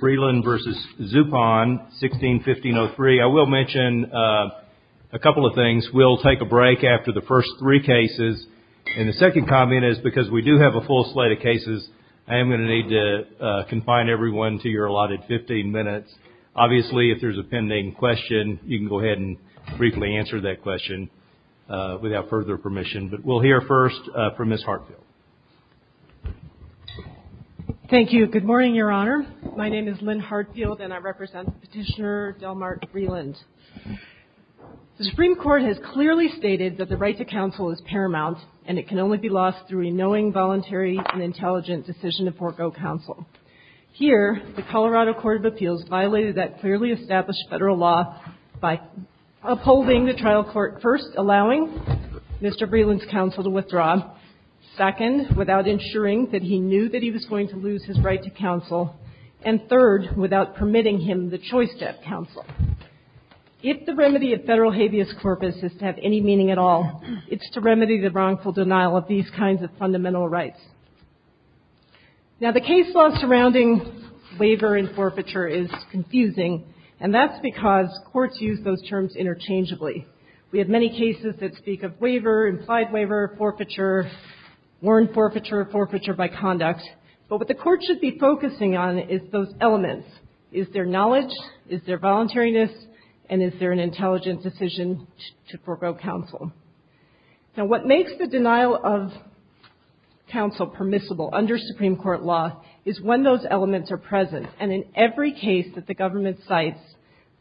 1615-03. I will mention a couple of things. We'll take a break after the first three cases. And the second comment is, because we do have a full slate of cases, I am going to need to confine everyone to your allotted 15 minutes. Obviously, if there's a pending question, you can go ahead and briefly answer that question without further permission. But we'll hear first from Ms. Hartfield. Thank you. Good morning, Your Honor. My name is Lynn Hartfield, and I represent Petitioner Delmark Vreeland. The Supreme Court has clearly stated that the right to counsel is paramount, and it can only be lost through a knowing, voluntary, and intelligent decision to forego counsel. Here, the Colorado Court of Appeals violated that clearly established federal law by upholding the trial court first, allowing Mr. Vreeland's counsel to withdraw. Second, without ensuring that he knew that he was going to lose his right to counsel. And third, without permitting him the choice to have counsel. If the remedy of federal habeas corpus is to have any meaning at all, it's to remedy the wrongful denial of these kinds of fundamental rights. Now, the case law surrounding waiver and forfeiture is confusing, and that's because courts use those terms interchangeably. We have many cases that speak of waiver, implied waiver, forfeiture, warrant forfeiture, forfeiture by conduct. But what the court should be focusing on is those elements. Is there knowledge? Is there voluntariness? And is there an intelligent decision to forego counsel? Now, what makes the denial of counsel permissible under Supreme Court law is when those elements are present. And in every case that the government cites,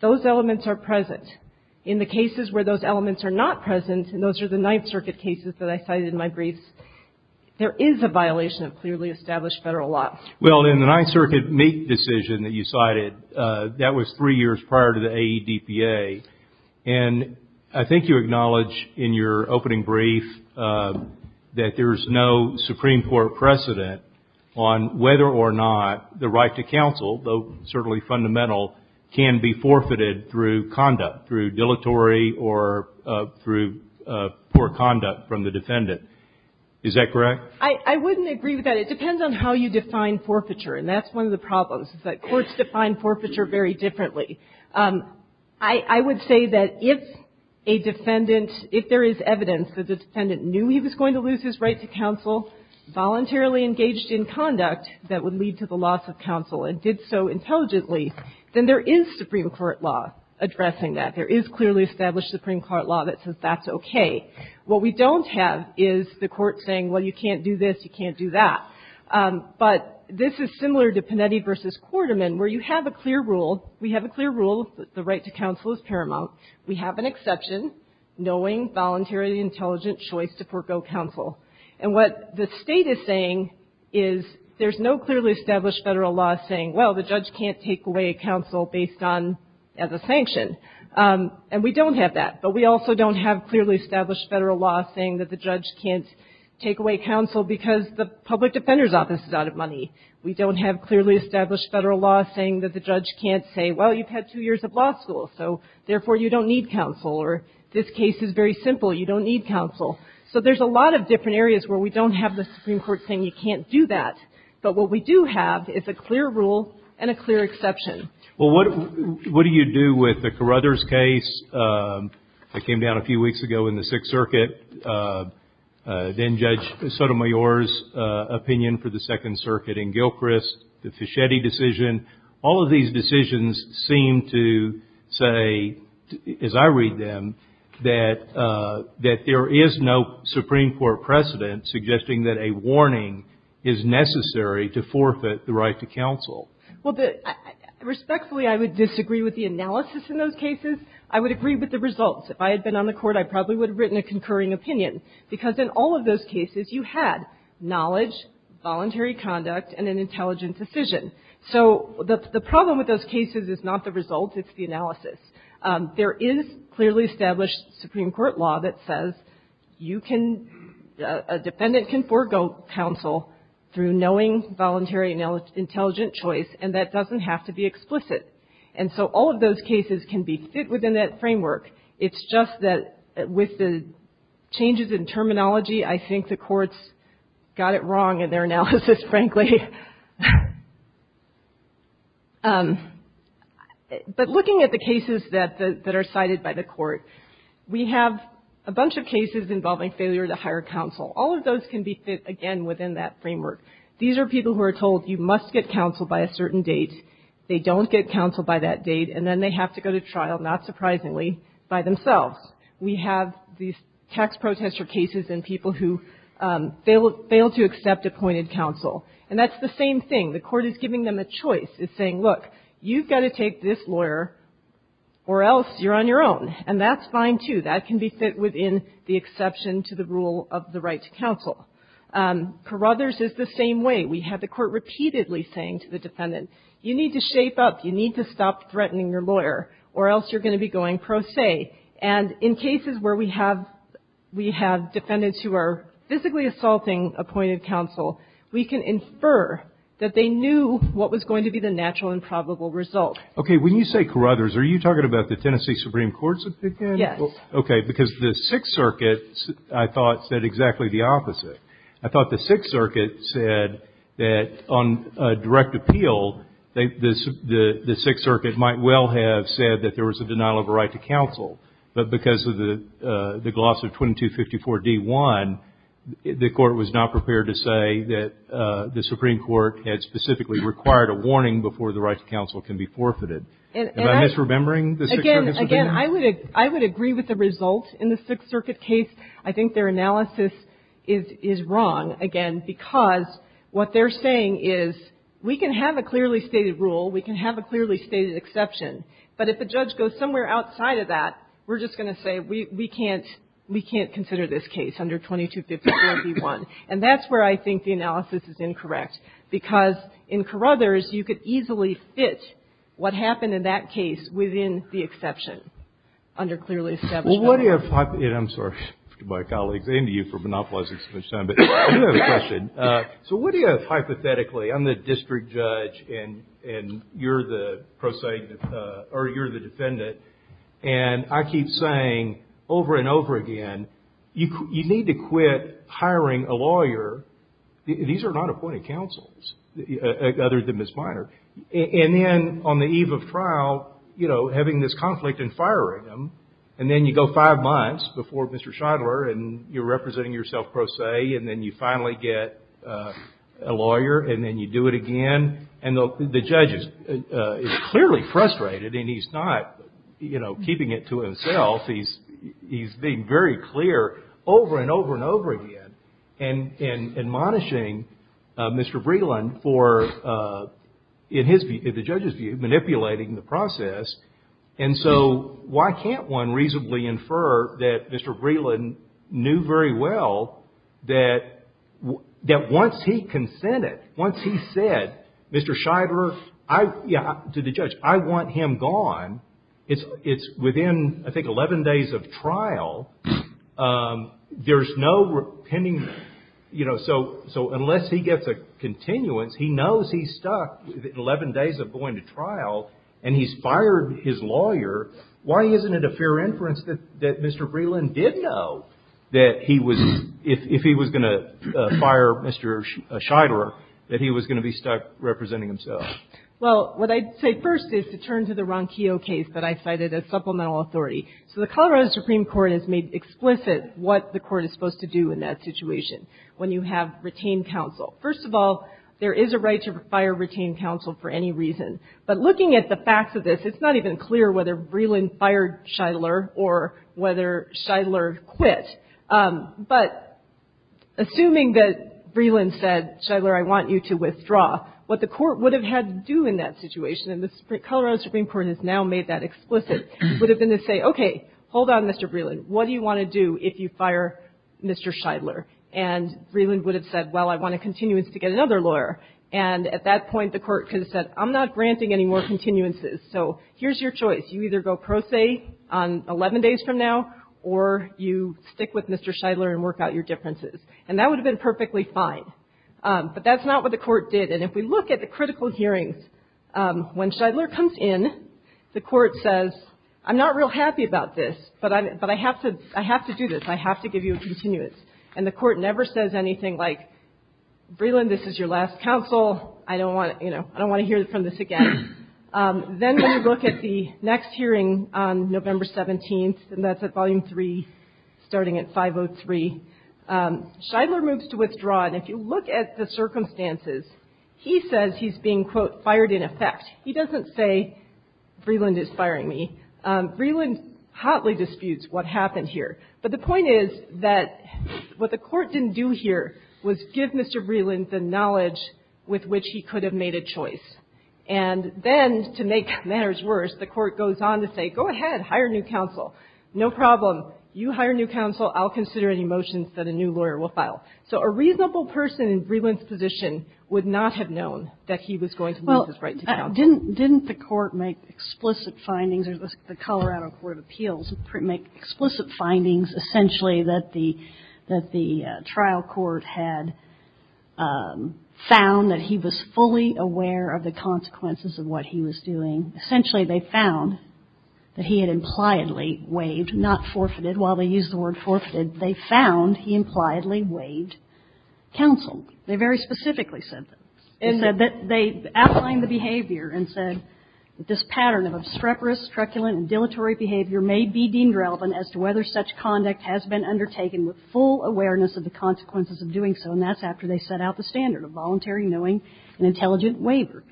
those elements are present. In the cases where those elements are not present, and those are the Ninth Circuit cases that I cited in my briefs, there is a violation of clearly established federal law. Well, in the Ninth Circuit Meek decision that you cited, that was three years prior to the AEDPA. And I think you acknowledge in your opening brief that there is no Supreme Court precedent on whether or not the right to counsel, though certainly fundamental, can be forfeited through conduct, through dilatory or through poor conduct from the defendant. Is that correct? I wouldn't agree with that. It depends on how you define forfeiture. And that's one of the problems, is that courts define forfeiture very differently. I would say that if a defendant – if there is evidence that the defendant knew he was going to lose his right to counsel, voluntarily engaged in conduct that would lead to the loss of counsel and did so intelligently, then there is Supreme Court law addressing that. There is clearly established Supreme Court law that says that's okay. What we don't have is the court saying, well, you can't do this, you can't do that. But this is similar to Panetti v. Quarterman, where you have a clear rule, we have a clear rule that the right to counsel is paramount. We have an exception, knowing voluntarily intelligent choice to forego counsel. And what the State is saying is there's no clearly established Federal law saying, well, the judge can't take away counsel based on – as a sanction. And we don't have that. But we also don't have clearly established Federal law saying that the judge can't take away counsel because the public defender's office is out of money. We don't have clearly established Federal law saying that the judge can't say, well, you've had two years of law school, so therefore you don't need counsel. Or this case is very simple, you don't need counsel. So there's a lot of different areas where we don't have the Supreme Court saying you can't do that. But what we do have is a clear rule and a clear exception. Well, what – what do you do with the Carruthers case that came down a few weeks ago in the Sixth Circuit? Then Judge Sotomayor's opinion for the Second Circuit in Gilchrist, the Fischetti decision. All of these decisions seem to say, as I read them, that – that there is no Supreme Court precedent suggesting that a warning is necessary to forfeit the right to counsel. Well, the – respectfully, I would disagree with the analysis in those cases. I would agree with the results. If I had been on the Court, I probably would have written a concurring opinion. Because in all of those cases, you had knowledge, voluntary conduct, and an intelligent decision. So the – the problem with those cases is not the results, it's the analysis. There is clearly established Supreme Court law that says you can – a defendant can forego counsel through knowing, voluntary, and intelligent choice, and that doesn't have to be explicit. And so all of those cases can be fit within that framework. It's just that with the changes in terminology, I think the Court's got it wrong in their analysis, frankly. But looking at the cases that – that are cited by the Court, we have a bunch of cases involving failure to hire counsel. All of those can be fit, again, within that framework. These are people who are told you must get counsel by a certain date. They don't get counsel by that date, and then they have to go to trial, not surprisingly, by themselves. We have these tax protester cases and people who fail to accept appointed counsel. And that's the same thing. The Court is giving them a choice. It's saying, look, you've got to take this lawyer or else you're on your own. And that's fine, too. That can be fit within the exception to the rule of the right to counsel. Carruthers is the same way. We have the Court repeatedly saying to the defendant, you need to shape up. You need to stop threatening your lawyer or else you're going to be going pro se. And in cases where we have – we have defendants who are physically assaulting appointed counsel, we can infer that they knew what was going to be the natural and probable result. Okay. When you say Carruthers, are you talking about the Tennessee Supreme Court's opinion? Yes. Okay. Because the Sixth Circuit, I thought, said exactly the opposite. I thought the Sixth Circuit said that on direct appeal, the Sixth Circuit might well have said that there was a denial of a right to counsel. But because of the gloss of 2254d-1, the Court was not prepared to say that the Supreme Court had specifically required a warning before the right to counsel can be forfeited. Am I misremembering the Sixth Circuit's opinion? Again, I would agree with the result in the Sixth Circuit case. I think their analysis is wrong, again, because what they're saying is we can have a clearly stated rule, we can have a clearly stated exception, but if a judge goes somewhere outside of that, we're just going to say we can't consider this case under 2254d-1. And that's where I think the analysis is incorrect, because in Carruthers, you could easily fit what happened in that case within the exception under clearly established law. I'm sorry to my colleagues and to you for monopolizing so much time, but I do have a question. So what do you have hypothetically? I'm the district judge and you're the defendant. And I keep saying over and over again, you need to quit hiring a lawyer. These are not appointed counsels, other than Ms. Minor. And then on the eve of trial, you know, having this conflict and firing him, and then you go five months before Mr. Schadler and you're representing yourself pro se, and then you finally get a lawyer and then you do it again. And the judge is clearly frustrated and he's not, you know, keeping it to himself. He's being very clear over and over and over again and admonishing Mr. Breland for, in the judge's view, manipulating the process. And so why can't one reasonably infer that Mr. Breland knew very well that once he consented, once he said, Mr. Schadler, to the judge, I want him gone, it's within, I think, 11 days of trial. There's no pending, you know, so unless he gets a continuance, he knows he's stuck within 11 days of going to trial and he's fired his lawyer. Why isn't it a fair inference that Mr. Breland did know that he was, if he was going to fire Mr. Schadler, that he was going to be stuck representing himself? Well, what I'd say first is to turn to the Ronquillo case that I cited as supplemental authority. So the Colorado Supreme Court has made explicit what the Court is supposed to do in that situation when you have retained counsel. First of all, there is a right to fire retained counsel for any reason. But looking at the facts of this, it's not even clear whether Breland fired Schadler or whether Schadler quit. But assuming that Breland said, Schadler, I want you to withdraw, what the Court would have had to do in that situation, and the Colorado Supreme Court has now made that explicit, would have been to say, okay, hold on, Mr. Breland, what do you want to do if you fire Mr. Schadler? And Breland would have said, well, I want a continuance to get another lawyer. And at that point, the Court could have said, I'm not granting any more continuances, so here's your choice. You either go pro se on 11 days from now or you stick with Mr. Schadler and work out your differences. And that would have been perfectly fine. But that's not what the Court did. And if we look at the critical hearings, when Schadler comes in, the Court says, I'm not real happy about this, but I have to do this. I have to give you a continuance. And the Court never says anything like, Breland, this is your last counsel. I don't want to hear from this again. Then when you look at the next hearing on November 17th, and that's at Volume 3, starting at 503, Schadler moves to withdraw. And if you look at the circumstances, he says he's being, quote, fired in effect. He doesn't say, Breland is firing me. Breland hotly disputes what happened here. But the point is that what the Court didn't do here was give Mr. Breland the knowledge with which he could have made a choice. And then, to make matters worse, the Court goes on to say, go ahead, hire new counsel. No problem. You hire new counsel. I'll consider any motions that a new lawyer will file. So a reasonable person in Breland's position would not have known that he was going to lose his right to counsel. Kagan. Well, didn't the Court make explicit findings, or the Colorado Court of Appeals make explicit findings, essentially, that the trial court had found that he was fully aware of the consequences of what he was doing? Essentially, they found that he had impliedly waived, not forfeited. While they used the word forfeited, they found he impliedly waived counsel. They very specifically said this. They said that they outlined the behavior and said that this pattern of obstreperous, truculent, and dilatory behavior may be deemed relevant as to whether such conduct has been undertaken with full awareness of the consequences of doing so, and that's after they set out the standard of voluntary knowing and intelligent waiver.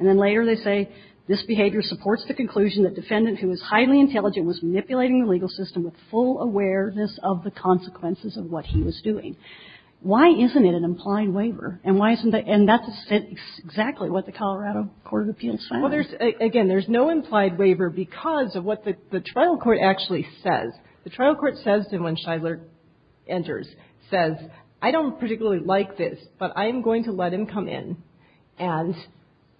And then later they say, this behavior supports the conclusion that defendant who is highly intelligent was manipulating the legal system with full awareness of the consequences of what he was doing. Why isn't it an implied waiver? And why isn't the – and that's exactly what the Colorado Court of Appeals found. Well, there's – again, there's no implied waiver because of what the trial court actually says. The trial court says to him when Shidler enters, says, I don't particularly like this, but I am going to let him come in, and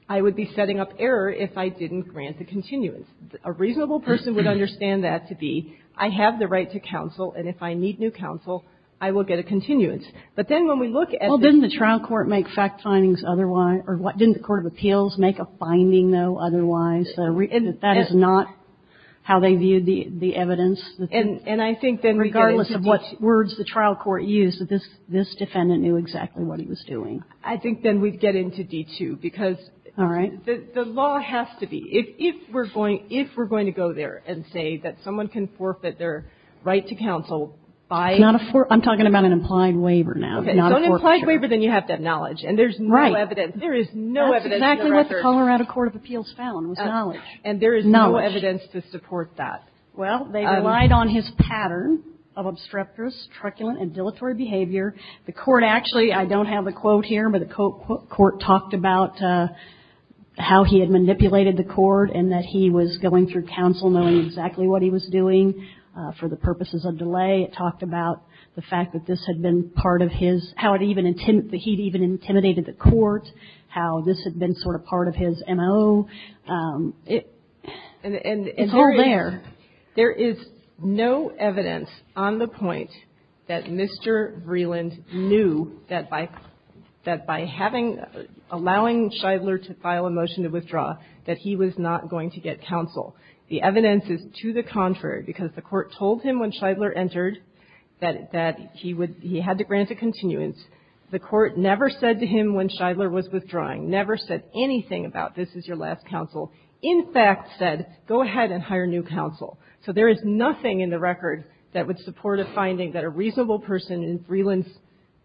I would be setting up error if I didn't grant a continuance. A reasonable person would understand that to be, I have the right to counsel, and if I need new counsel, I will get a continuance. But then when we look at the – Well, didn't the trial court make fact findings otherwise – or didn't the court of appeals make a finding, though, otherwise? That is not how they viewed the evidence. And I think then we get into D2. Regardless of what words the trial court used, this defendant knew exactly what he was doing. I think then we'd get into D2 because the law has to be, if we're going to go there and say that someone can forfeit their right to counsel by – It's not a – I'm talking about an implied waiver now, not a forfeiture. Okay. So an implied waiver, then you have to acknowledge. And there's no evidence. There is no evidence in the record. That's really what the Colorado Court of Appeals found, was knowledge. And there is no evidence to support that. Well, they relied on his pattern of obstreperous, truculent, and dilatory behavior. The court actually – I don't have the quote here, but the court talked about how he had manipulated the court and that he was going through counsel knowing exactly what he was doing for the purposes of delay. It talked about the fact that this had been part of his – how it even – that he'd even intimidated the court, how this had been sort of part of his M.O. It's all there. There is no evidence on the point that Mr. Vreeland knew that by – that by having – allowing Shidler to file a motion to withdraw, that he was not going to get counsel. The evidence is to the contrary, because the court told him when Shidler entered that he would – he had to grant a continuance. The court never said to him when Shidler was withdrawing, never said anything about, this is your last counsel. In fact, said, go ahead and hire new counsel. So there is nothing in the record that would support a finding that a reasonable person in Vreeland's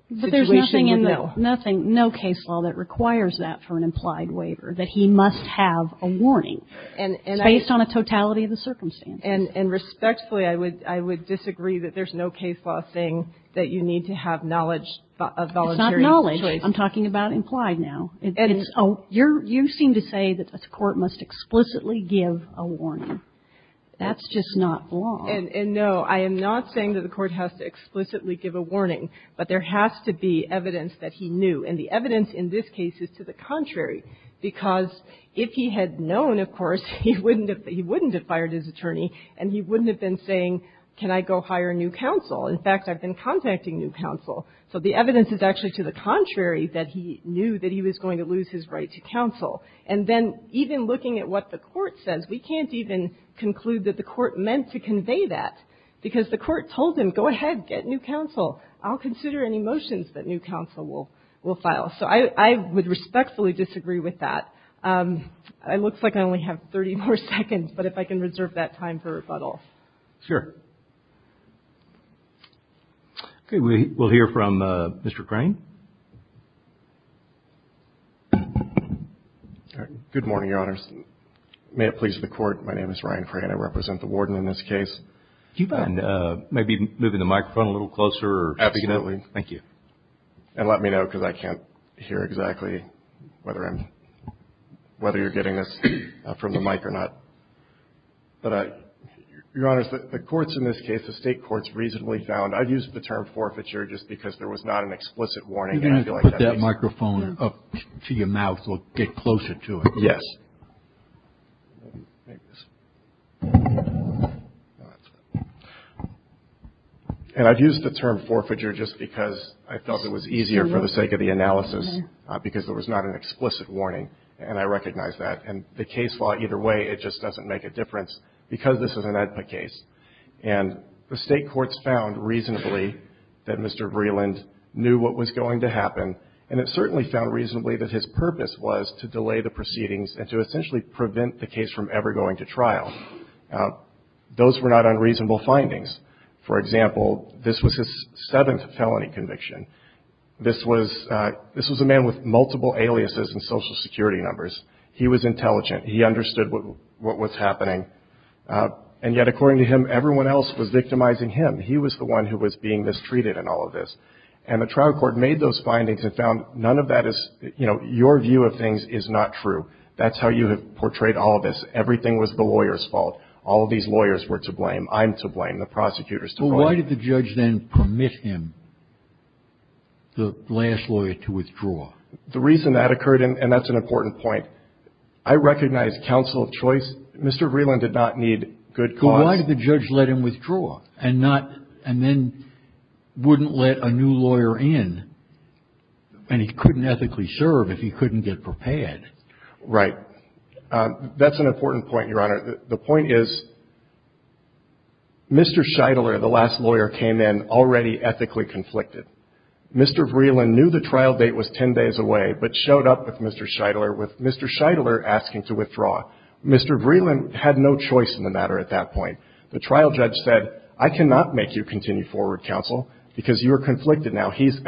situation would know. But there's nothing in the – nothing, no case law that requires that for an implied waiver, that he must have a warning. And I – It's based on a totality of the circumstances. And respectfully, I would – I would disagree that there's no case law saying that you need to have knowledge of voluntary choice. It's not knowledge. I'm talking about implied now. It's – oh, you're – you seem to say that the court must explicitly give a warning. That's just not law. And no, I am not saying that the court has to explicitly give a warning. But there has to be evidence that he knew. And the evidence in this case is to the contrary, because if he had known, of course, he wouldn't have – he wouldn't have fired his attorney. And he wouldn't have been saying, can I go hire new counsel? In fact, I've been contacting new counsel. So the evidence is actually to the contrary, that he knew that he was going to lose his right to counsel. And then even looking at what the court says, we can't even conclude that the court meant to convey that, because the court told him, go ahead, get new counsel. I'll consider any motions that new counsel will – will file. So I would respectfully disagree with that. It looks like I only have 30 more seconds. But if I can reserve that time for rebuttal. Sure. Okay. We'll hear from Mr. Crane. Good morning, Your Honors. May it please the Court. My name is Ryan Crane. I represent the Warden in this case. Do you mind maybe moving the microphone a little closer? Absolutely. Thank you. And let me know, because I can't hear exactly whether I'm – whether you're getting this from the mic or not. But, Your Honors, the courts in this case, the State courts reasonably found – I've used the term forfeiture just because there was not an explicit warning. And I feel like that makes sense. You can put that microphone up to your mouth so we'll get closer to it. Yes. And I've used the term forfeiture just because I felt it was easier for the sake of the analysis because there was not an explicit warning. And I recognize that. And the case law, either way, it just doesn't make a difference because this is an AEDPA case. And the State courts found reasonably that Mr. Vreeland knew what was going to happen. And it certainly found reasonably that his purpose was to delay the proceedings and to essentially prevent the case from ever going to trial. Those were not unreasonable findings. For example, this was his seventh felony conviction. This was a man with multiple aliases and Social Security numbers. He was intelligent. He understood what was happening. And yet, according to him, everyone else was victimizing him. He was the one who was being mistreated in all of this. And the trial court made those findings and found none of that is, you know, your view of things is not true. That's how you have portrayed all of this. Everything was the lawyer's fault. All of these lawyers were to blame. I'm to blame. The prosecutor's to blame. Well, why did the judge then permit him, the last lawyer, to withdraw? The reason that occurred, and that's an important point, I recognize counsel of choice. Mr. Vreeland did not need good cause. Why did the judge let him withdraw and then wouldn't let a new lawyer in? And he couldn't ethically serve if he couldn't get prepared. Right. That's an important point, Your Honor. The point is, Mr. Scheidler, the last lawyer, came in already ethically conflicted. Mr. Vreeland knew the trial date was 10 days away but showed up with Mr. Scheidler asking to withdraw. Mr. Vreeland had no choice in the matter at that point. The trial judge said, I cannot make you continue forward, counsel, because you are conflicted now. He's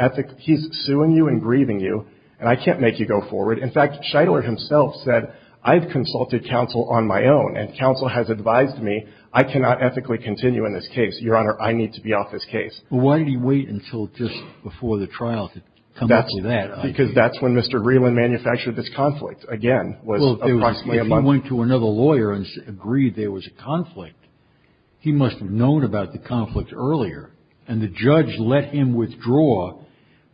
suing you and grieving you, and I can't make you go forward. In fact, Scheidler himself said, I've consulted counsel on my own, and counsel has advised me I cannot ethically continue in this case. Your Honor, I need to be off this case. Well, why did he wait until just before the trial to come up with that idea? Because that's when Mr. Vreeland manufactured this conflict, again, was approximately a month. If he went to another lawyer and agreed there was a conflict, he must have known about the conflict earlier, and the judge let him withdraw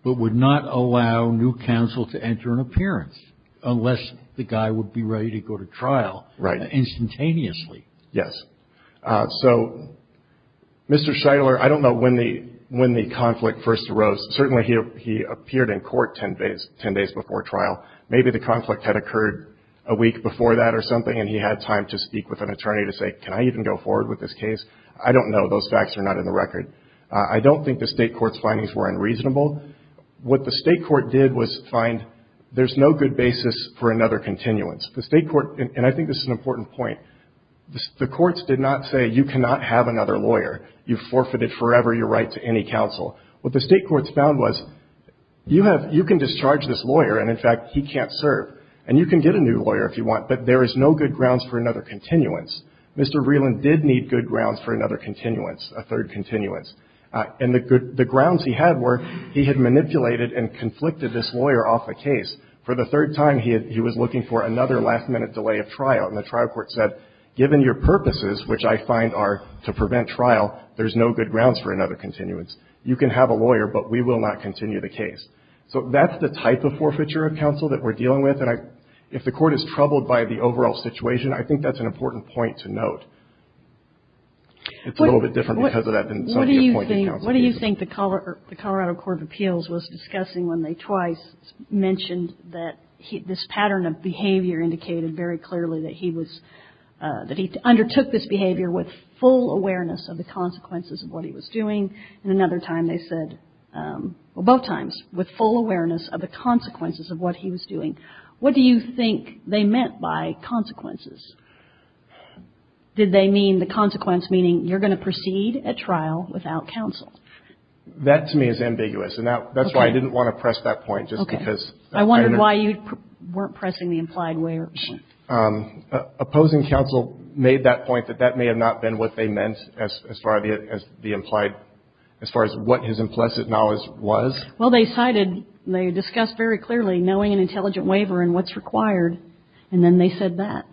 but would not allow new counsel to enter an appearance unless the guy would be ready to go to trial instantaneously. Yes. So, Mr. Scheidler, I don't know when the conflict first arose. Certainly, he appeared in court 10 days before trial. Maybe the conflict had occurred a week before that or something, and he had time to speak with an attorney to say, can I even go forward with this case? I don't know. Those facts are not in the record. I don't think the State court's findings were unreasonable. What the State court did was find there's no good basis for another continuance. The State court, and I think this is an important point, the courts did not say you cannot have another lawyer. You've forfeited forever your right to any counsel. What the State court found was you have you can discharge this lawyer and, in fact, he can't serve, and you can get a new lawyer if you want, but there is no good grounds for another continuance. Mr. Rieland did need good grounds for another continuance, a third continuance. And the grounds he had were he had manipulated and conflicted this lawyer off a case. For the third time, he was looking for another last-minute delay of trial. And the trial court said, given your purposes, which I find are to prevent trial, there's no good grounds for another continuance. You can have a lawyer, but we will not continue the case. So that's the type of forfeiture of counsel that we're dealing with. And if the court is troubled by the overall situation, I think that's an important point to note. It's a little bit different because of that than some of the appointed counsel. What do you think the Colorado Court of Appeals was discussing when they twice mentioned that this pattern of behavior indicated very clearly that he was, that he undertook this behavior with full awareness of the consequences of what he was doing? And another time they said, well, both times, with full awareness of the consequences of what he was doing. What do you think they meant by consequences? Did they mean the consequence meaning you're going to proceed at trial without counsel? That, to me, is ambiguous. And that's why I didn't want to press that point, just because. Okay. I wondered why you weren't pressing the implied way or point. Opposing counsel made that point that that may have not been what they meant as far as the implied, as far as what his implicit knowledge was? Well, they cited, they discussed very clearly knowing an intelligent waiver and what's required. And then they said that.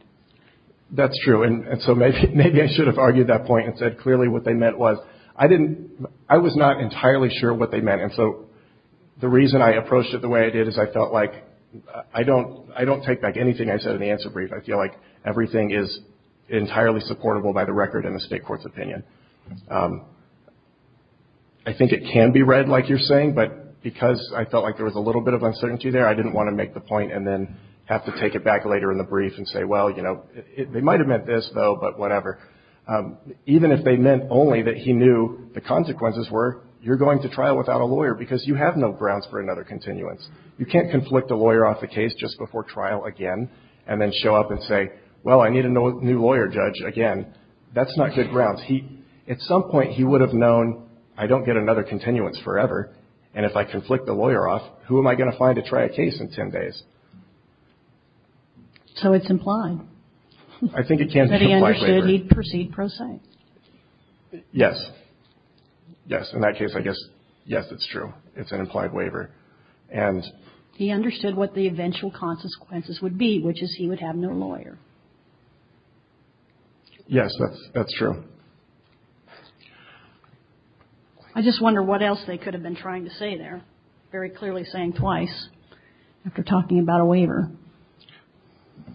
That's true. And so maybe I should have argued that point and said clearly what they meant was. I didn't, I was not entirely sure what they meant. And so the reason I approached it the way I did is I felt like I don't take back anything I said in the answer brief. I feel like everything is entirely supportable by the record in the state court's opinion. I think it can be read like you're saying. But because I felt like there was a little bit of uncertainty there, I didn't want to make the point and then have to take it back later in the brief and say, well, you know, they might have meant this, though, but whatever. Even if they meant only that he knew the consequences were you're going to trial without a lawyer because you have no grounds for another continuance. You can't conflict a lawyer off a case just before trial again and then show up and say, well, I need a new lawyer judge again. That's not good grounds. He, at some point he would have known I don't get another continuance forever. And if I conflict the lawyer off, who am I going to find to try a case in 10 days? So it's implied. I think it can be implied waiver. But he understood he'd proceed pro se. Yes. Yes. In that case, I guess, yes, it's true. It's an implied waiver. And he understood what the eventual consequences would be, which is he would have no lawyer. Yes. That's true. I just wonder what else they could have been trying to say. They're very clearly saying twice after talking about a waiver.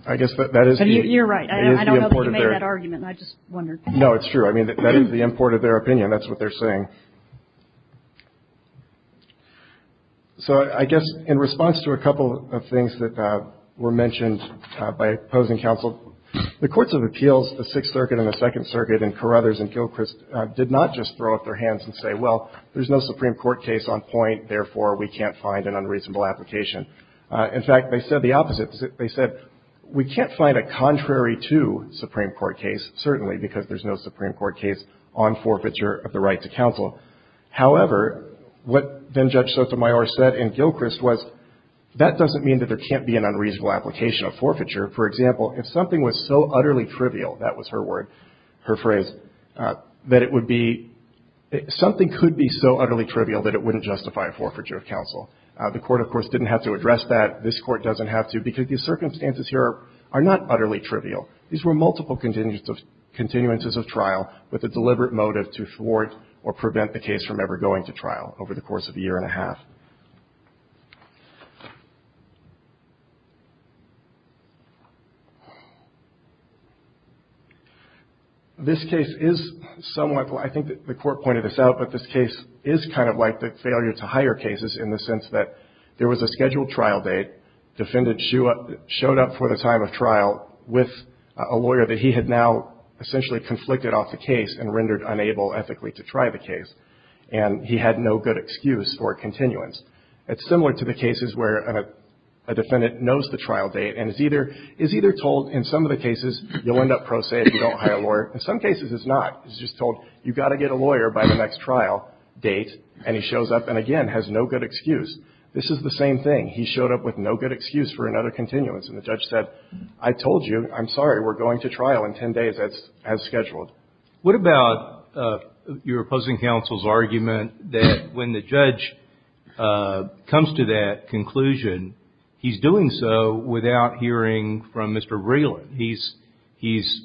I guess that that is. You're right. I don't know that argument. I just wonder. No, it's true. I mean, that is the import of their opinion. That's what they're saying. So I guess in response to a couple of things that were mentioned by opposing counsel, the courts of appeals, the Sixth Circuit and the Second Circuit and Carruthers and Gilchrist did not just throw up their hands and say, well, there's no Supreme Court case on point. Therefore, we can't find an unreasonable application. In fact, they said the opposite. They said we can't find a contrary to Supreme Court case, certainly, because there's no Supreme Court case on forfeiture of the right to counsel. However, what then Judge Sotomayor said in Gilchrist was that doesn't mean that there can't be an unreasonable application of forfeiture. For example, if something was so utterly trivial, that was her word, her phrase, that it would be something could be so utterly trivial that it wouldn't justify a forfeiture of counsel. The court, of course, didn't have to address that. This court doesn't have to because these circumstances here are not utterly trivial. These were multiple continuances of trial with a deliberate motive to thwart or prevent the case from ever going to trial over the course of a year and a half. This case is somewhat, I think the court pointed this out, but this case is kind of like the failure to hire cases in the sense that there was a scheduled trial date, defendant showed up for the time of trial with a lawyer that he had now essentially conflicted off the case and rendered unable ethically to try the case, and he had no good excuse or continuance. It's similar to the cases where a defendant knows the trial date and is either told in some of the cases you'll end up pro se if you don't hire a lawyer. In some cases it's not. It's just told you've got to get a lawyer by the next trial date, and he shows up and, again, has no good excuse. This is the same thing. He showed up with no good excuse for another continuance, and the judge said, I told you, I'm sorry, we're going to trial in 10 days as scheduled. What about your opposing counsel's argument that when the judge comes to that conclusion, he's doing so without hearing from Mr. Breland? He's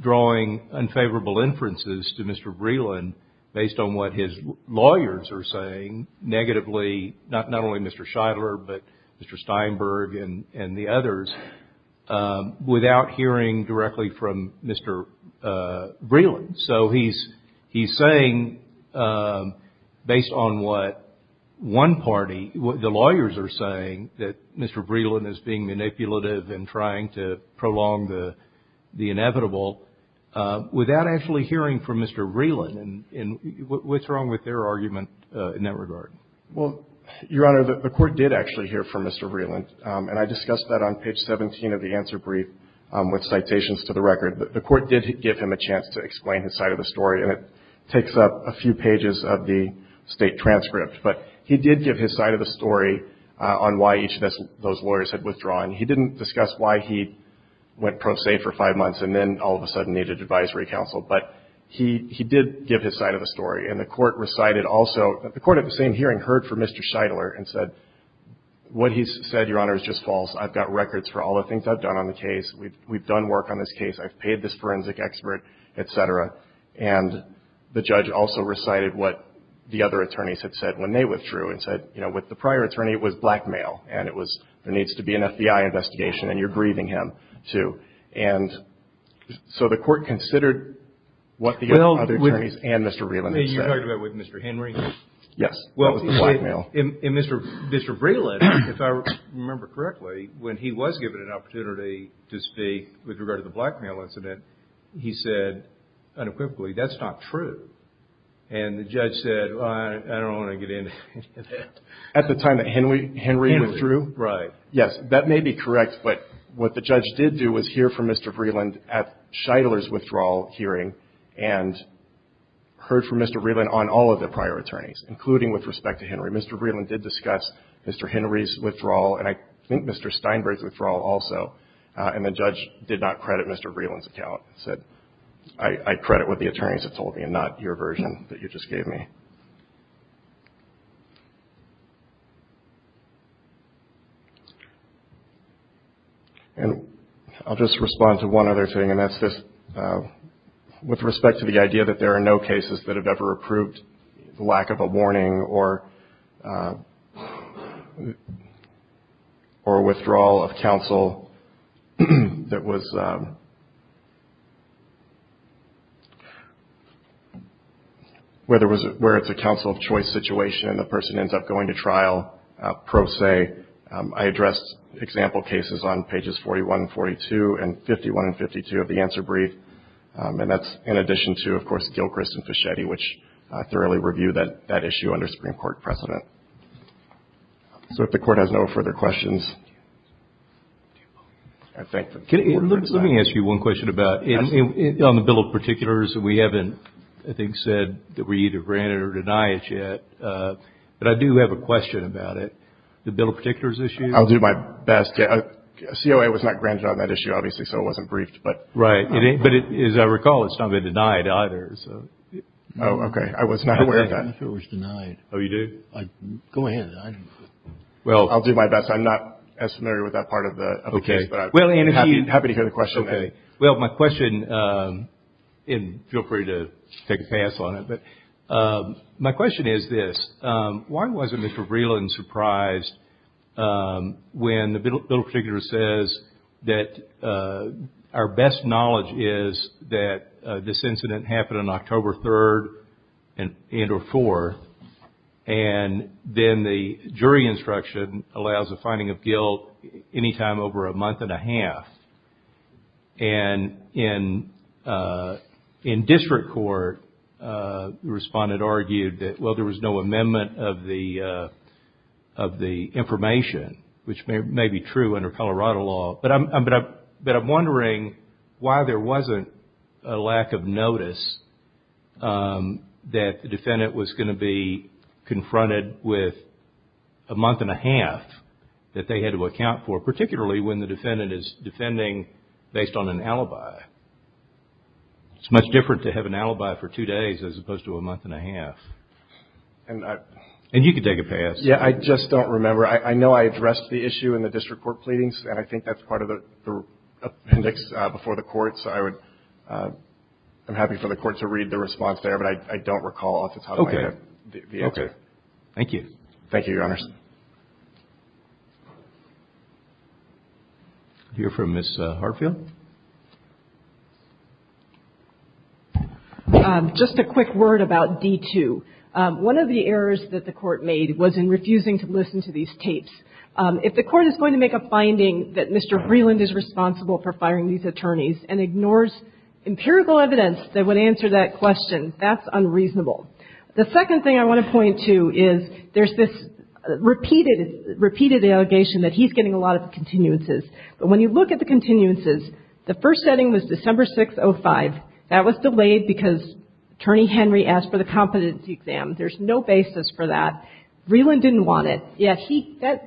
drawing unfavorable inferences to Mr. Breland based on what his lawyers are saying negatively, not only Mr. Scheidler, but Mr. Steinberg and the others, without hearing directly from Mr. Breland. So he's saying, based on what one party, what the lawyers are saying, that Mr. Breland is being manipulative and trying to prolong the inevitable without actually hearing from Mr. Breland. And what's wrong with their argument in that regard? Well, Your Honor, the Court did actually hear from Mr. Breland, and I discussed that on page 17 of the answer brief with citations to the record. The Court did give him a chance to explain his side of the story, and it takes up a few pages of the State transcript. But he did give his side of the story on why each of those lawyers had withdrawn. He didn't discuss why he went pro se for five months and then all of a sudden needed advisory counsel. But he did give his side of the story, and the Court recited also — the Court at the same hearing heard from Mr. Scheidler and said, what he's said, Your Honor, is just false. I've got records for all the things I've done on the case. We've done work on this case. I've paid this forensic expert, et cetera. And the judge also recited what the other attorneys had said when they withdrew and said, you know, with the prior attorney, it was blackmail, and it was there needs to be an FBI investigation, and you're grieving him, too. And so the Court considered what the other attorneys and Mr. Vreeland had said. You're talking about with Mr. Henry? Yes. What was the blackmail? And Mr. Vreeland, if I remember correctly, when he was given an opportunity to speak with regard to the blackmail incident, he said unequivocally, that's not true. And the judge said, well, I don't want to get into that. At the time that Henry withdrew? Henry, right. Yes, that may be correct, but what the judge did do was hear from Mr. Vreeland at Scheidler's withdrawal hearing and heard from Mr. Vreeland on all of the prior attorneys, including with respect to Henry. Mr. Vreeland did discuss Mr. Henry's withdrawal, and I think Mr. Steinberg's withdrawal also, and the judge did not credit Mr. Vreeland's account. I credit what the attorneys had told me and not your version that you just gave me. And I'll just respond to one other thing, and that's this, with respect to the idea that there are no cases that have ever approved the lack of a warning or withdrawal of counsel that was, where it's a counsel of choice situation, and the person ends up going to trial pro se. I addressed example cases on pages 41 and 42 and 51 and 52 of the answer brief, and that's in addition to, of course, Gilchrist and Fischetti, which thoroughly review that issue under Supreme Court precedent. So if the Court has no further questions, I thank the Court for tonight. Let me ask you one question about, on the Bill of Particulars, we haven't, I think, said that we either grant it or deny it yet, but I do have a question about it. The Bill of Particulars issue? I'll do my best. COA was not granted on that issue, obviously, so it wasn't briefed. Right. But as I recall, it's not been denied either. Oh, okay. I was not aware of that. I don't know if it was denied. Oh, you do? Go ahead. I don't know. I'll do my best. I'm not as familiar with that part of the case, but I'd be happy to hear the question. Okay. Well, my question, and feel free to take a pass on it, but my question is this. Why wasn't Mr. Breland surprised when the Bill of Particulars says that our best knowledge is that this incident happened on October 3rd and or 4th, and then the jury instruction allows a finding of guilt any time over a month and a half? And in district court, the respondent argued that, well, there was no amendment of the information, which may be true under Colorado law. But I'm wondering why there wasn't a lack of notice that the defendant was going to be confronted with a month and a half that they had to account for, particularly when the defendant is defending based on an alibi. It's much different to have an alibi for two days as opposed to a month and a half. And you can take a pass. Yeah, I just don't remember. I know I addressed the issue in the district court pleadings, and I think that's part of the appendix before the court, so I'm happy for the court to read the response there, but I don't recall off the top of my head the answer. Okay. Thank you. Thank you, Your Honors. We'll hear from Ms. Hartfield. Just a quick word about D2. One of the errors that the court made was in refusing to listen to these tapes. If the court is going to make a finding that Mr. Vreeland is responsible for firing these attorneys and ignores empirical evidence that would answer that question, that's unreasonable. The second thing I want to point to is there's this repeated allegation that he's getting a lot of continuances. But when you look at the continuances, the first setting was December 6, 2005. That was delayed because Attorney Henry asked for the competency exam. There's no basis for that. Vreeland didn't want it, yet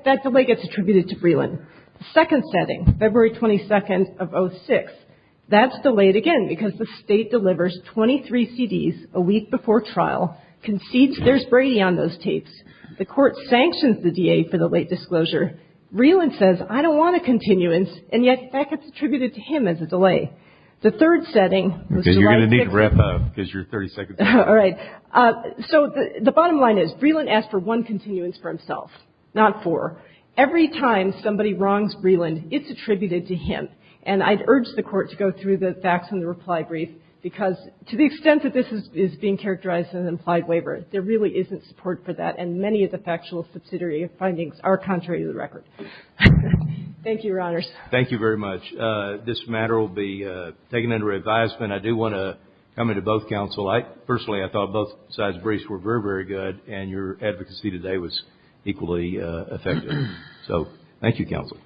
that delay gets attributed to Vreeland. The second setting, February 22, 2006, that's delayed again because the State delivers 23 CDs a week before trial concedes there's Brady on those tapes. The court sanctions the DA for the late disclosure. Vreeland says, I don't want a continuance, and yet that gets attributed to him as a delay. The third setting was July 6th. Okay. You're going to need rep of because you're 30 seconds late. All right. So the bottom line is Vreeland asked for one continuance for himself, not four. Every time somebody wrongs Vreeland, it's attributed to him. And I'd urge the court to go through the facts and the reply brief because to the extent that this is being characterized as an implied waiver, there really isn't support for that, and many of the factual subsidiary findings are contrary to the record. Thank you, Your Honors. Thank you very much. This matter will be taken under advisement. I do want to comment to both counsel. Personally, I thought both sides' briefs were very, very good, and your advocacy today was equally effective. So thank you, counsel.